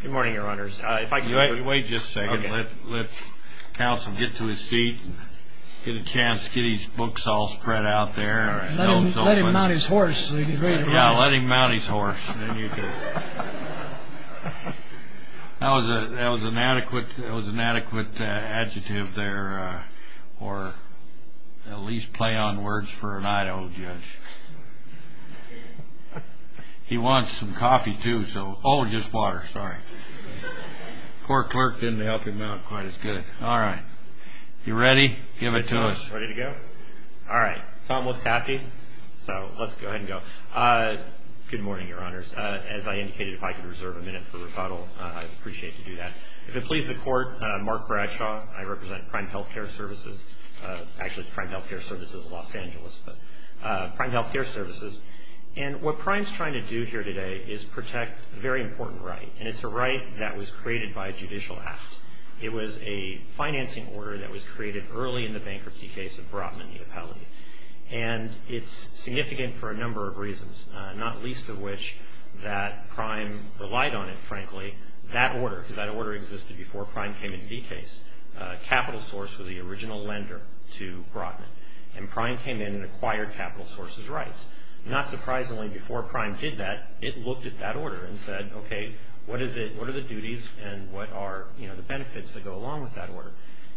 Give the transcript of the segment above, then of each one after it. Good morning, Your Honors. If I could... Wait just a second. Okay. Let counsel get to his seat and get a chance to get his books all spread out there. Let him mount his horse. Yeah, let him mount his horse. Then you can... That was an adequate adjective there, or at least play on words for an Idaho judge. He wants some coffee, too, so, oh, just water, sorry. Court clerk didn't help him out quite as good. All right. You ready? Give it to us. Ready to go? All right. Tom looks happy, so let's go ahead and go. Good morning, Your Honors. As I indicated, if I could reserve a minute for rebuttal, I'd appreciate to do that. If it pleases the Court, Mark Bradshaw. Actually, Prime Health Care Services of Los Angeles, but Prime Health Care Services of Los Angeles. Prime Health Care Services, and what Prime's trying to do here today is protect a very important right, and it's a right that was created by a judicial act. It was a financing order that was created early in the bankruptcy case of Brotman v. Appellant, and it's significant for a number of reasons, not least of which that Prime relied on it, frankly. That order, because that order existed before Prime came in the case. Capital source was the original lender to Brotman, and Prime came in and acquired capital source's rights. Not surprisingly, before Prime did that, it looked at that order and said, okay, what is it, what are the duties, and what are the benefits that go along with that order?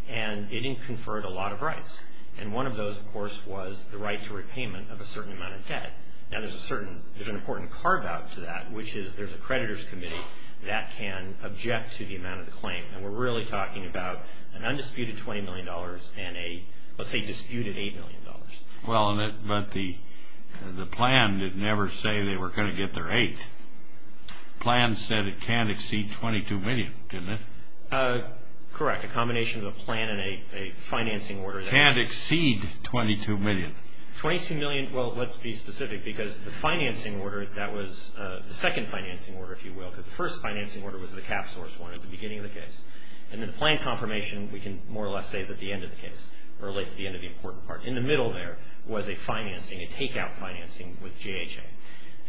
It didn't conferred a lot of rights, and one of those, of course, was the right to repayment of a certain amount of debt. Now, there's a certain, there's an important carve out to that, which is there's a creditor's committee that can object to the amount of the claim, and we're really talking about an undisputed $20 million and a, let's say, disputed $8 million. Well, but the plan did never say they were going to get their 8. The plan said it can't exceed $22 million, didn't it? Correct. A combination of a plan and a financing order. Can't exceed $22 million. $22 million, well, let's be specific, because the financing order, that was the second financing order, if you will, because the first financing order was the cap source one at the beginning of the case, and then the plan confirmation, we can more or less say, is at the end of the case, or at least at the end of the important part. In the middle there was a financing, a take out financing with JHA,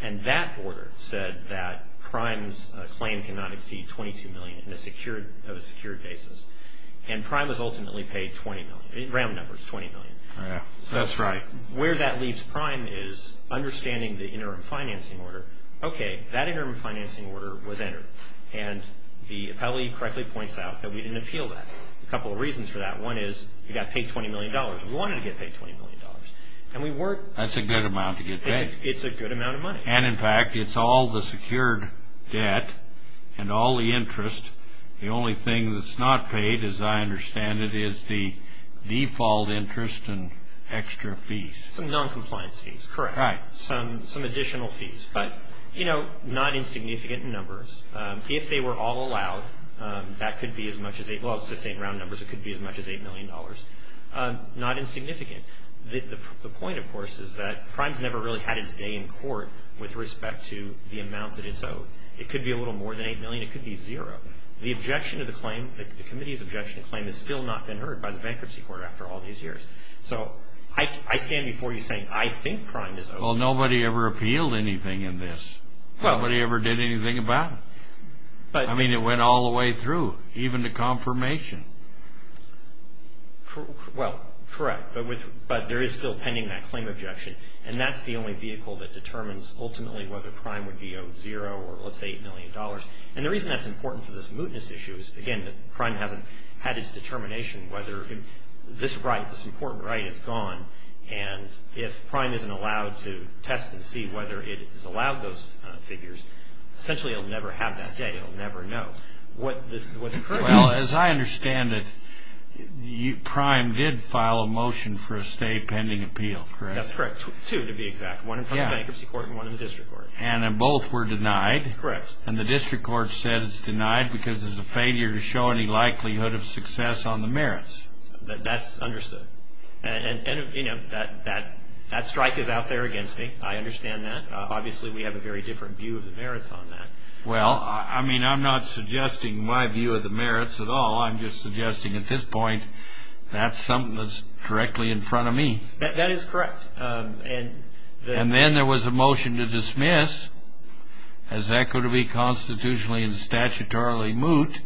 and that order said that Prime's claim cannot exceed $22 million in a secured, of a secured basis, and Prime was ultimately paid $20 million, in round numbers, $20 million. Oh, yeah, that's right. Where that leaves Prime is understanding the interim financing order. Okay, that interim financing order was entered, and the appellee correctly points out that we didn't appeal that. A couple of reasons for that. One is, you got paid $20 million. We wanted to get paid $20 million, and we weren't. That's a good amount to get paid. It's a good amount of money. And, in fact, it's all the secured debt and all the interest. The only thing that's not paid, as I understand it, is the default interest and extra fees. Some noncompliance fees, correct. Right. Some additional fees, but, you know, not insignificant in numbers. If they were all allowed, that could be as much as a, well, this ain't round numbers, it could be as much as $8 million. Not insignificant. The point, of course, is that Prime's never really had its day in court with respect to the amount that it's owed. It could be a little more than $8 million. It could be zero. The objection to the claim, the committee's objection to the claim, has still not been heard by the Bankruptcy Court after all these years. So, I stand before you saying, I think Prime is owed. Well, nobody ever appealed anything in this. Nobody ever did anything about it. I mean, it went all the way through, even to confirmation. Well, correct. But there is still pending that claim objection, and that's the only vehicle that determines ultimately whether Prime would be owed zero or, let's say, $8 million. And the reason that's important for this mootness issue is, again, that Prime hasn't had its determination whether this right, this important right, is gone. And if Prime isn't allowed to test and see whether it has allowed those figures, essentially, it'll never have that day. It'll never know. Well, as I understand it, Prime did file a motion for a stay pending appeal, correct? That's correct. Two, to be exact. One in front of the Bankruptcy Court, and one in the District Court. And both were denied? Correct. And the District Court said it's denied because it's a failure to show any likelihood of success on the merits? That's understood. And, you know, that strike is out there against me. I understand that. Obviously, we have a very different view of the merits on that. Well, I mean, I'm not suggesting my view of the merits at all. I'm just suggesting at this point that's something that's directly in front of me. That is correct. And then there was a motion to dismiss, as that could be constitutionally and statutorily moot.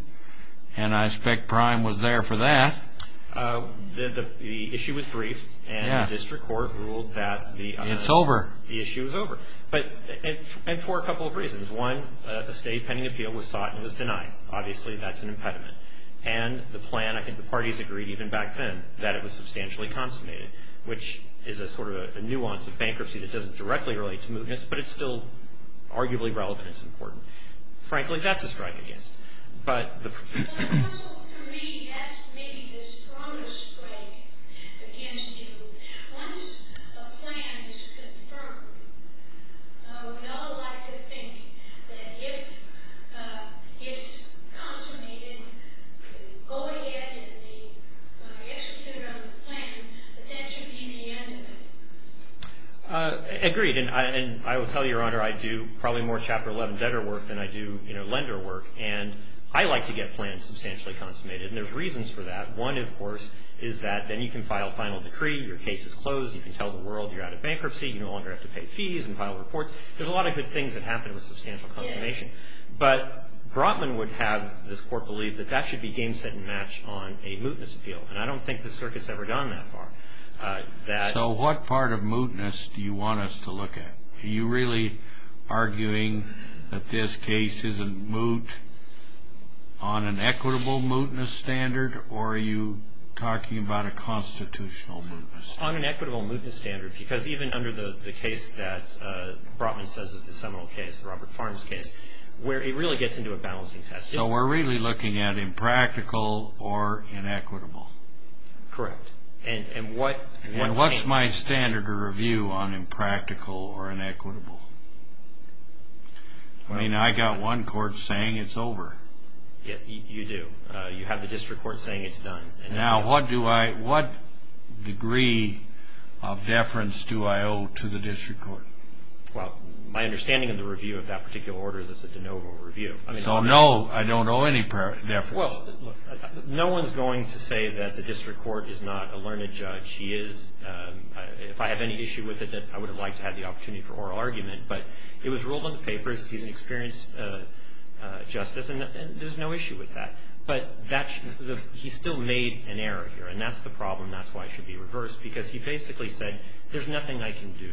And I expect Prime was there for that. The issue was briefed. Yeah. And the District Court ruled that the issue was over. And for a couple of reasons. One, the State Pending Appeal was sought and it was denied. Obviously, that's an impediment. And the plan, I think the parties agreed even back then, that it was substantially consummated, which is a sort of a nuance of bankruptcy that doesn't directly relate to mootness, but it's still arguably relevant. Frankly, that's a strike, I guess. But the proposal to me, that's maybe the strongest strike against you. Once a plan is confirmed, we all like to think that if it's consummated, go ahead and execute on the plan, but that should be the end of it. Agreed. And I will tell you, Your Honor, I do probably more Chapter 11 debtor work than I do lender work, and I like to get plans substantially consummated. And there's reasons for that. One, of course, is that then you can file final decree, your case is closed, you can tell the world you're out of bankruptcy, you no longer have to pay fees and file reports. There's a lot of good things that happen with substantial consummation. But Brotman would have this Court believe that that should be game, set, and matched on a mootness appeal. And I don't think the circuit's ever gone that far. So what part of mootness do you want us to look at? Are you really arguing that this case isn't moot on an equitable mootness standard, or are you talking about a constitutional mootness standard? On an equitable mootness standard, because even under the case that Brotman says is the seminal case, the Robert Farms case, where it really gets into a balancing test. So we're really looking at impractical or inequitable? Correct. And what's my standard of review on impractical or inequitable? I mean, I got one court saying it's over. You do. You have the district court saying it's done. Now, what degree of deference do I owe to the district court? Well, my understanding of the review of that particular order is it's a de novo review. So no, I don't owe any deference? Well, no one's going to say that the district court is not a learned judge. He is. If I have any issue with it, I would have liked to have the opportunity for oral argument. But it was ruled on the papers. He's an experienced justice. And there's no issue with that. But he still made an error here. And that's the problem. That's why it should be reversed. Because he basically said, there's nothing I can do.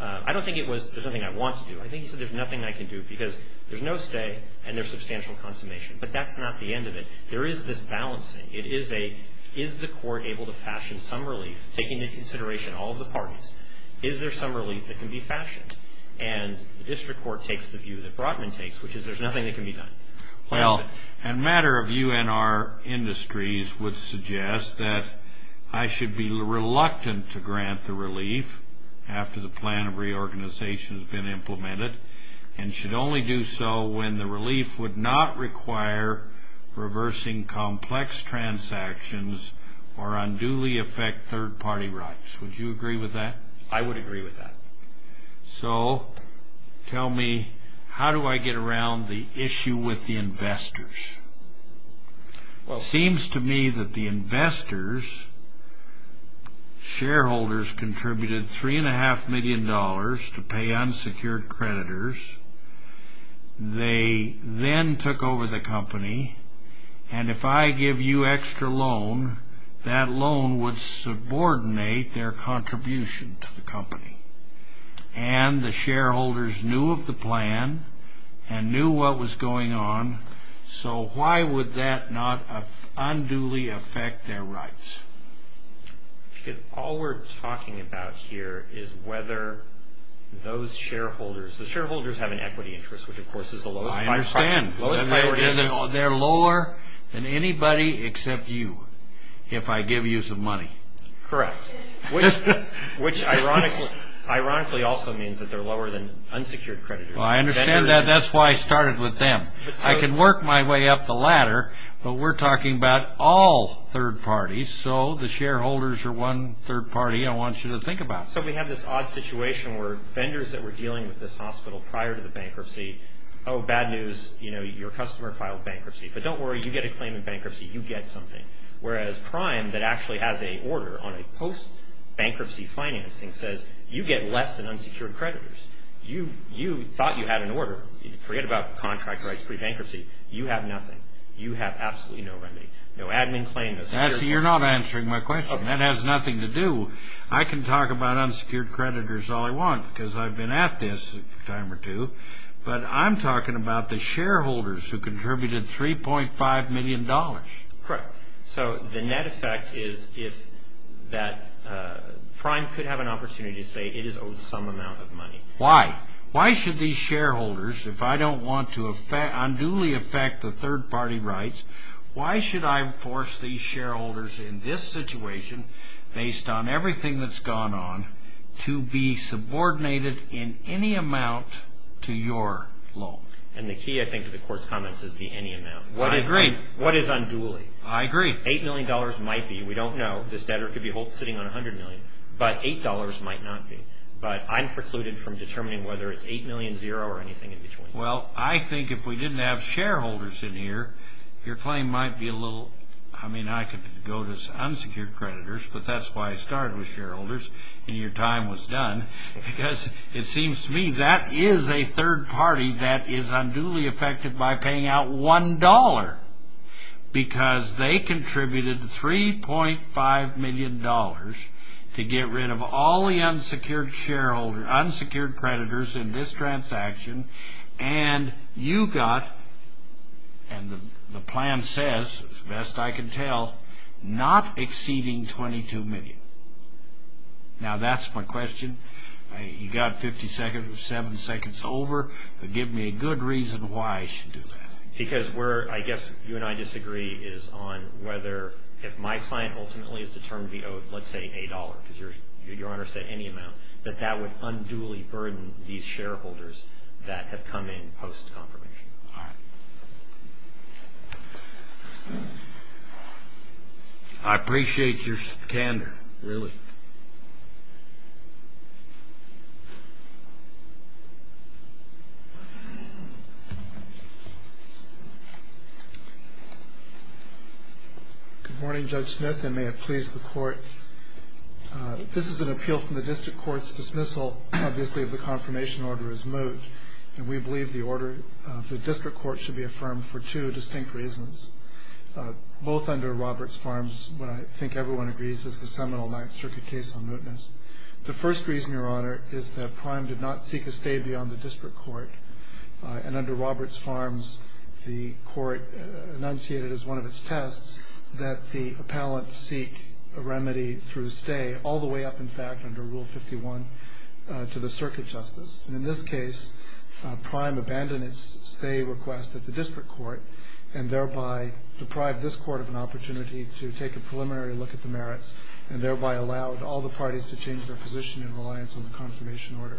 I don't think it was, there's nothing I want to do. I think he said, there's nothing I can do. Because there's no stay, and there's substantial consummation. But that's not the end of it. There is this balancing. It is a, is the court able to fashion some relief, taking into consideration all of the parties? Is there some relief that can be fashioned? And the district court takes the view that Brotman takes, which is there's nothing that can be done. Well, a matter of UNR industries would suggest that I should be reluctant to grant the relief after the plan of reorganization has been implemented. And should only do so when the relief would not require reversing complex transactions or unduly affect third party rights. Would you agree with that? I would agree with that. So, tell me, how do I get around the issue with the investors? It seems to me that the investors, shareholders, contributed $3.5 million to pay unsecured creditors. They then took over the company. And if I give you extra loan, that loan would subordinate their contribution to the company. And the shareholders knew of the plan and knew what was going on. So, why would that not unduly affect their rights? All we're talking about here is whether those shareholders, the shareholders have an equity interest, which of course is the lowest priority. I understand. They're lower than anybody except you, if I give you some money. Correct. Which ironically also means that they're lower than unsecured creditors. Well, I understand that. That's why I started with them. I can work my way up the ladder, but we're talking about all third parties. So, the shareholders are one third party I want you to think about. So, we have this odd situation where vendors that were dealing with this hospital prior to the bankruptcy, oh, bad news, you know, your customer filed bankruptcy. But don't worry, you get a claim in bankruptcy, you get something. Whereas, Prime that actually has an order on a post-bankruptcy financing says, you get less than unsecured creditors. You thought you had an order. Forget about contract rights pre-bankruptcy. You have nothing. You have absolutely no remedy. No admin claim, no secured creditors. Actually, you're not answering my question. That has nothing to do. I can talk about unsecured creditors all I want because I've been at this a time or two. But I'm talking about the shareholders who contributed $3.5 million. Correct. So, the net effect is if that Prime could have an opportunity to say it is owed some amount of money. Why? Why should these shareholders, if I don't want to unduly affect the third party rights, why should I force these shareholders in this situation, based on everything that's gone on, to be subordinated in any amount to your loan? And the key, I think, to the court's comments is the any amount. I agree. What is unduly? I agree. $8 million might be. We don't know. This debtor could be sitting on $100 million. But $8 might not be. But I'm precluded from determining whether it's $8 million, zero, or anything in between. Well, I think if we didn't have shareholders in here, your claim might be a little... I mean, I could go to unsecured creditors, but that's why I started with shareholders and your time was done because it seems to me that is a third party that is unduly affected by paying out $1 because they contributed $3.5 million to get rid of all the unsecured creditors in this transaction and you got, and the plan says, as best I can tell, not exceeding $22 million. Now, that's my question. You got 50 seconds. We're seven seconds over. Give me a good reason why I should do that. Because where I guess you and I disagree is on whether, if my client ultimately is determined to be owed, let's say, $8, because your Honor said any amount, that that would unduly burden these shareholders that have come in post-confirmation. I appreciate your candor, really. Thank you. Good morning, Judge Smith, and may it please the Court. This is an appeal from the District Court's dismissal, obviously, if the confirmation order is moved, and we believe the order of the District Court should be affirmed for two distinct reasons, both under Roberts Farms, which I think everyone agrees is the seminal Ninth Circuit case on newtness. The first reason, Your Honor, is that Prime did not seek a stay beyond the District Court, and under Roberts Farms, the Court enunciated as one of its tests that the appellant seek a remedy through stay, all the way up, in fact, under Rule 51, to the Circuit Justice. In this case, Prime abandoned its stay request at the District Court, and thereby deprived this Court of an opportunity to take a preliminary look at the merits, and thereby allowed all the parties to change their position in reliance on the confirmation order.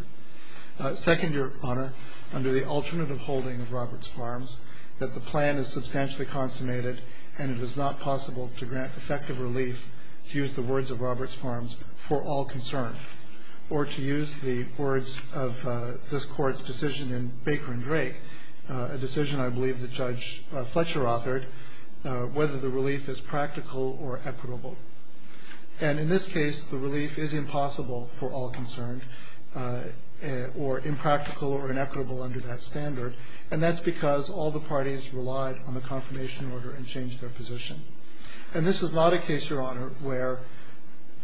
Second, Your Honor, under the alternative holding of Roberts Farms, that the plan is substantially consummated, and it is not possible to grant effective relief, to use the words of Roberts Farms, for all concern, or to use the words of this Court's decision in Baker and Drake, a decision I believe that Judge Fletcher authored, whether the relief is practical or equitable. And in this case, the relief is impossible for all concerned, or impractical or inequitable under that standard, and that's because all the parties relied on the confirmation order and changed their position. And this is not a case, Your Honor, where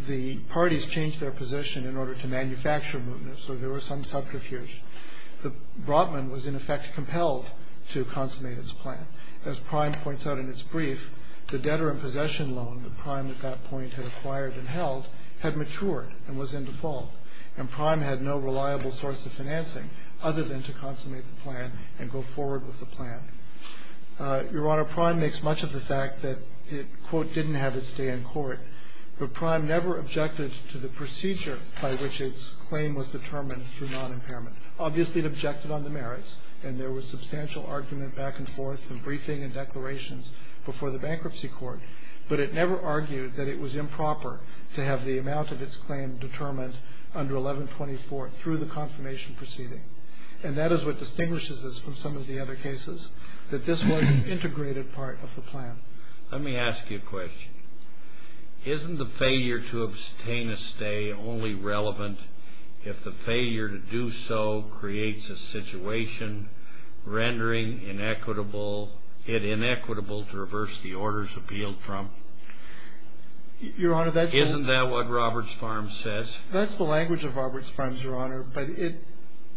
the parties changed their position in order to manufacture movement, so there was some subterfuge. The Brotman was in effect compelled to consummate its plan. As Prime points out in its brief, the debtor and possession loan that Prime at that point had acquired and held had matured and was in default, and Prime had no reliable source of financing other than to consummate the plan and go forward with the plan. Your Honor, Prime makes much of the fact that it, quote, didn't have its day in court, but Prime never objected to the procedure by which its claim was determined through non-impairment. Obviously it objected on the merits, and there was substantial argument back and forth in briefing and declarations before the bankruptcy court, but it never argued that it was improper to have the amount of its claim determined under 1124 through the confirmation proceeding. And that is what distinguishes this from some of the other cases, that this was an integrated part of the plan. Let me ask you a question. Isn't the failure to obtain a stay only relevant if the failure to do so creates a situation rendering it inequitable to reverse the orders appealed from? Your Honor, that's... Isn't that what Roberts Farms says? That's the language of Roberts Farms, Your Honor, but it...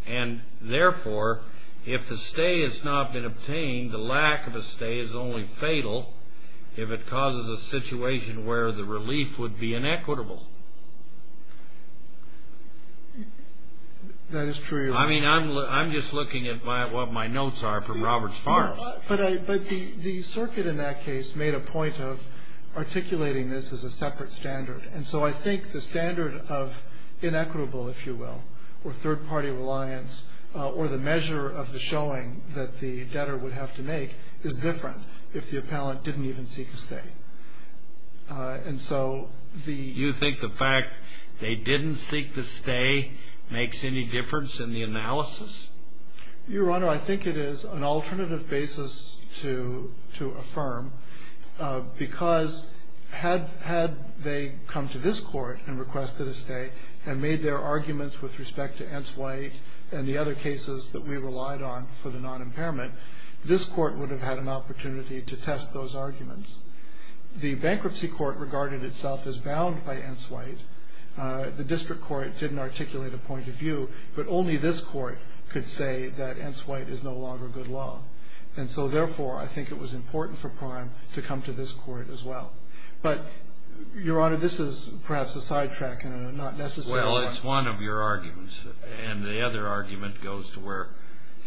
And, therefore, if the stay has not been obtained, the lack of a stay is only fatal if it causes a situation where the relief would be inequitable. That is true, Your Honor. I mean, I'm just looking at what my notes are from Roberts Farms. But the circuit in that case made a point of articulating this as a separate standard. And so I think the standard of inequitable, if you will, or third-party reliance, or the measure of the showing that the debtor would have to make is different if the appellant didn't even seek a stay. And so the... You think the fact they didn't seek the stay makes any difference in the analysis? Your Honor, I think it is an alternative basis to affirm because had they come to this court and requested a stay and made their arguments with respect to Entz-White and the other cases that we relied on for the non-impairment, this court would have had an opportunity to test those arguments. The bankruptcy court regarded itself as bound by Entz-White. The district court didn't articulate a point of view, but only this court could say that Entz-White is no longer good law. And so therefore I think it was important for Prime to come to this court as well. But, Your Honor, this is perhaps a sidetrack and not necessarily... Well, it's one of your arguments and the other argument goes to where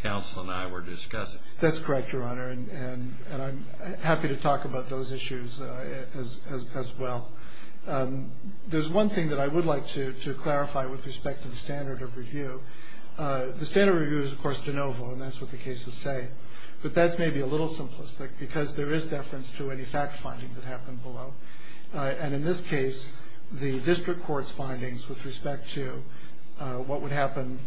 counsel and I were discussing. That's correct, Your Honor, and I'm happy to talk about those issues as well. There's one thing that I would like to clarify with respect to the standard of review. The standard review is, of course, de novo, and that's what the cases say. But that's maybe a little simplistic because there is deference to any fact-finding that happened below. And in this case, the district court's findings with respect to what would happen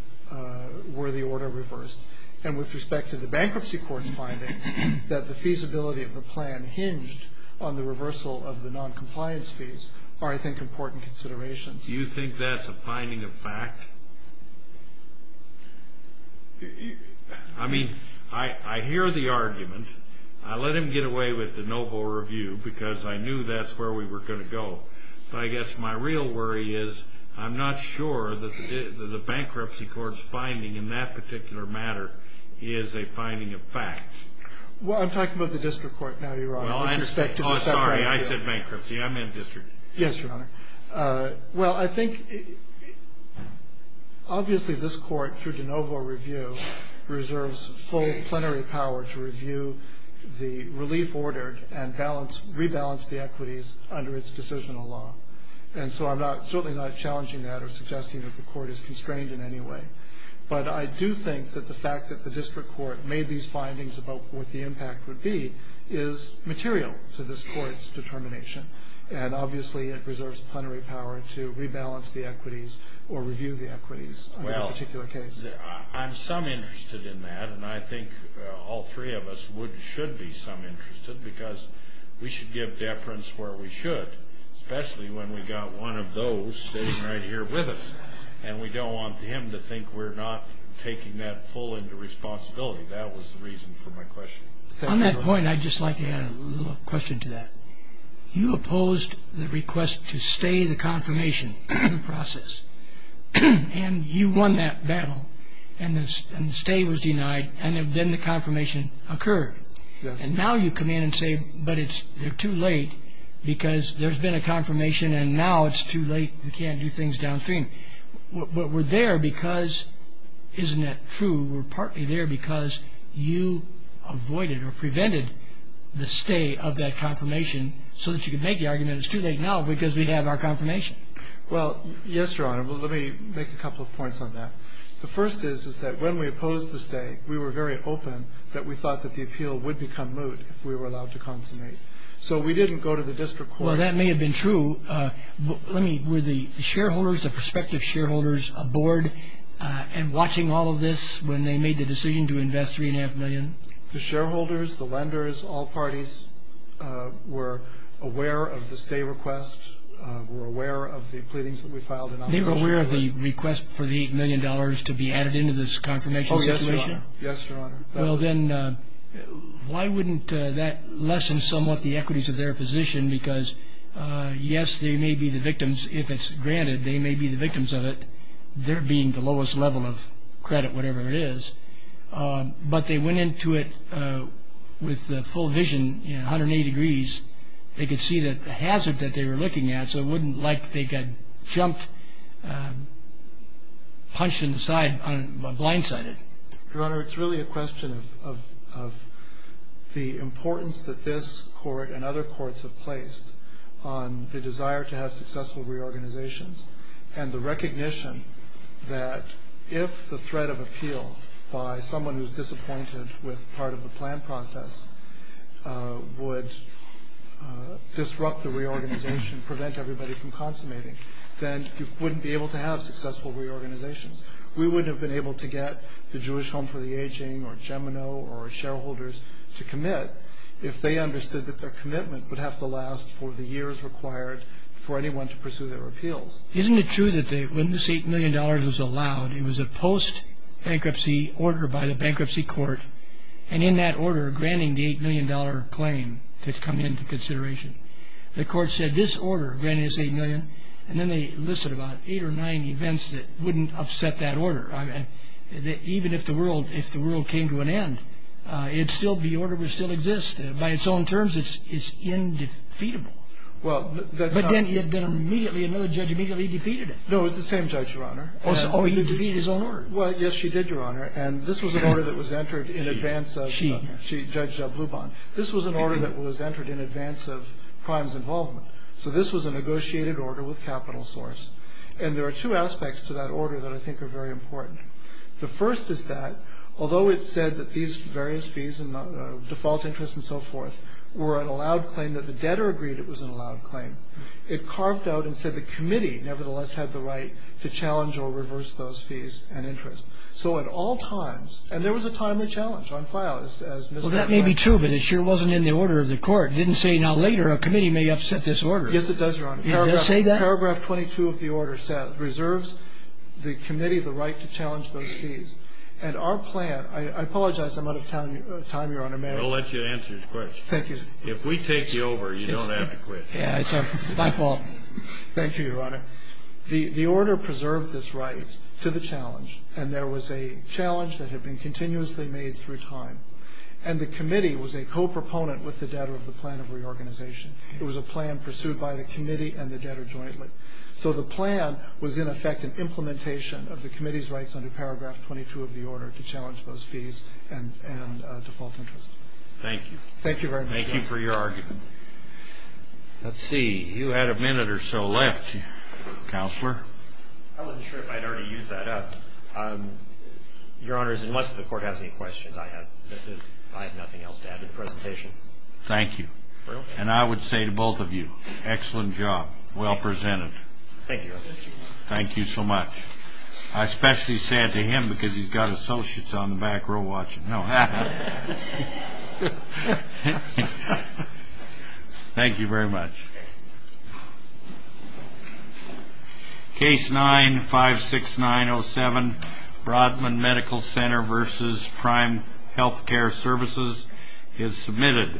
were the order reversed. And with respect to the bankruptcy court's findings, that the feasibility of the plan hinged on the reversal of the noncompliance fees are, I think, important considerations. Do you think that's a finding of fact? I mean, I hear the argument. I let him get away with de novo review because I knew that's where we were going to go. But I guess my real worry is I'm not sure that the bankruptcy court's finding in that particular matter is a finding of fact. Well, I'm talking about the district court now, Your Honor. Oh, sorry. I said bankruptcy. I'm in district. Yes, Your Honor. Well, I think obviously this Court, through de novo review, reserves full plenary power to review the relief ordered and rebalance the equities under its decisional law. And so I'm certainly not challenging that or suggesting that the Court is constrained in any way. But I do think that the fact that the district court made these findings about what the impact would be is material to this Court's determination. And obviously it reserves plenary power to rebalance the equities or review the equities in that particular case. Well, I'm some interested in that, and I think all three of us should be some interested because we should give deference where we should, especially when we've got one of those sitting right here with us. And we don't want him to think we're not taking that full into responsibility. That was the reason for my question. On that point, I'd just like to add a little question to that. You opposed the request to stay the confirmation process. And you won that battle, and the stay was denied, and then the confirmation occurred. And now you come in and say, but it's too late because there's been a confirmation, and now it's too late. We can't do things downstream. But we're there because isn't that true? We're partly there because you avoided or prevented the stay of that confirmation so that you could make the argument it's too late now because we have our confirmation. Well, yes, Your Honor. Well, let me make a couple of points on that. The first is that when we opposed the stay, we were very open that we thought that the appeal would become moot if we were allowed to consummate. So we didn't go to the district court. Well, that may have been true. Were the shareholders, the prospective shareholders, aboard and watching all of this when they made the decision to invest $3.5 million? The shareholders, the lenders, all parties were aware of the stay request, were aware of the pleadings that we filed in opposition to that. They were aware of the request for the $8 million to be added into this confirmation situation? Oh, yes, Your Honor. Yes, Your Honor. Well, then, why wouldn't that lessen somewhat the equities of their position? Because yes, they may be the victims if it's granted. They may be the victims of it, their being the lowest level of credit, whatever it is. But they went into it with the full vision 180 degrees. They could see the hazard that they were looking at so it wouldn't like they got jumped, punched in the side, blindsided. Your Honor, it's really a question of the importance that this court and other courts have placed on the desire to have successful reorganizations and the recognition that if the threat of appeal by someone who's disappointed with part of the plan process would disrupt the reorganization, prevent everybody from consummating, then you wouldn't be able to have successful reorganizations. We wouldn't have been able to get the Jewish Home for the Aging or Gemino or shareholders to commit if they understood that their appeal was required for anyone to pursue their appeals. Isn't it true that when this $8 million was allowed, it was a post-bankruptcy order by the bankruptcy court, and in that order, granting the $8 million claim to come into consideration, the court said this order granted us $8 million, and then they listed about 8 or 9 events that wouldn't upset that order. Even if the world came to an end, the order would still exist. By its own terms, it's indefeatable. But then another judge immediately defeated it. No, it was the same judge, Your Honor. Oh, he defeated his own order. Well, yes, she did, Your Honor, and this was an order that was entered in advance of Judge Bloubon. This was an order that was entered in advance of crimes involvement. So this was a negotiated order with capital source, and there are two aspects to that order that I think are very important. The first is that, although it's said that these various fees and default interest and so forth were an allowed claim, that the debtor agreed it was an allowed claim, it carved out and said the committee, nevertheless, had the right to challenge or reverse those fees and interest. So at all times, and there was a timely challenge on file, as Ms. Ratner said. Well, that may be true, but it sure wasn't in the order of the court. It didn't say, now, later a committee may upset this order. Yes, it does, Your Honor. Did it say that? Paragraph 22 of the order said, reserves the committee the right to challenge those fees. And our plan I apologize. I'm out of time, Your Honor. May I? We'll let you answer his question. Thank you. If we take you over, you don't have to quit. Yeah, it's my fault. Thank you, Your Honor. The order preserved this right to the challenge, and there was a challenge that had been continuously made through time. And the committee was a co-proponent with the debtor of the plan of reorganization. It was a plan pursued by the committee and the debtor jointly. So the plan was, in effect, an implementation of the committee's rights under paragraph 22 of the order to challenge those fees and default interest. Thank you. Thank you very much. Thank you for your argument. Let's see. You had a minute or so left, Counselor. I wasn't sure if I'd already used that up. Your Honor, unless the court has any questions, I have nothing else to add to the presentation. Thank you. And I would say to both of you, excellent job. Well presented. Thank you, Your Honor. Thank you so much. I'm especially sad to him because he's got associates on the back row watching. Thank you very much. Case 956907 Brodman Medical Center versus Prime Healthcare Services is submitted.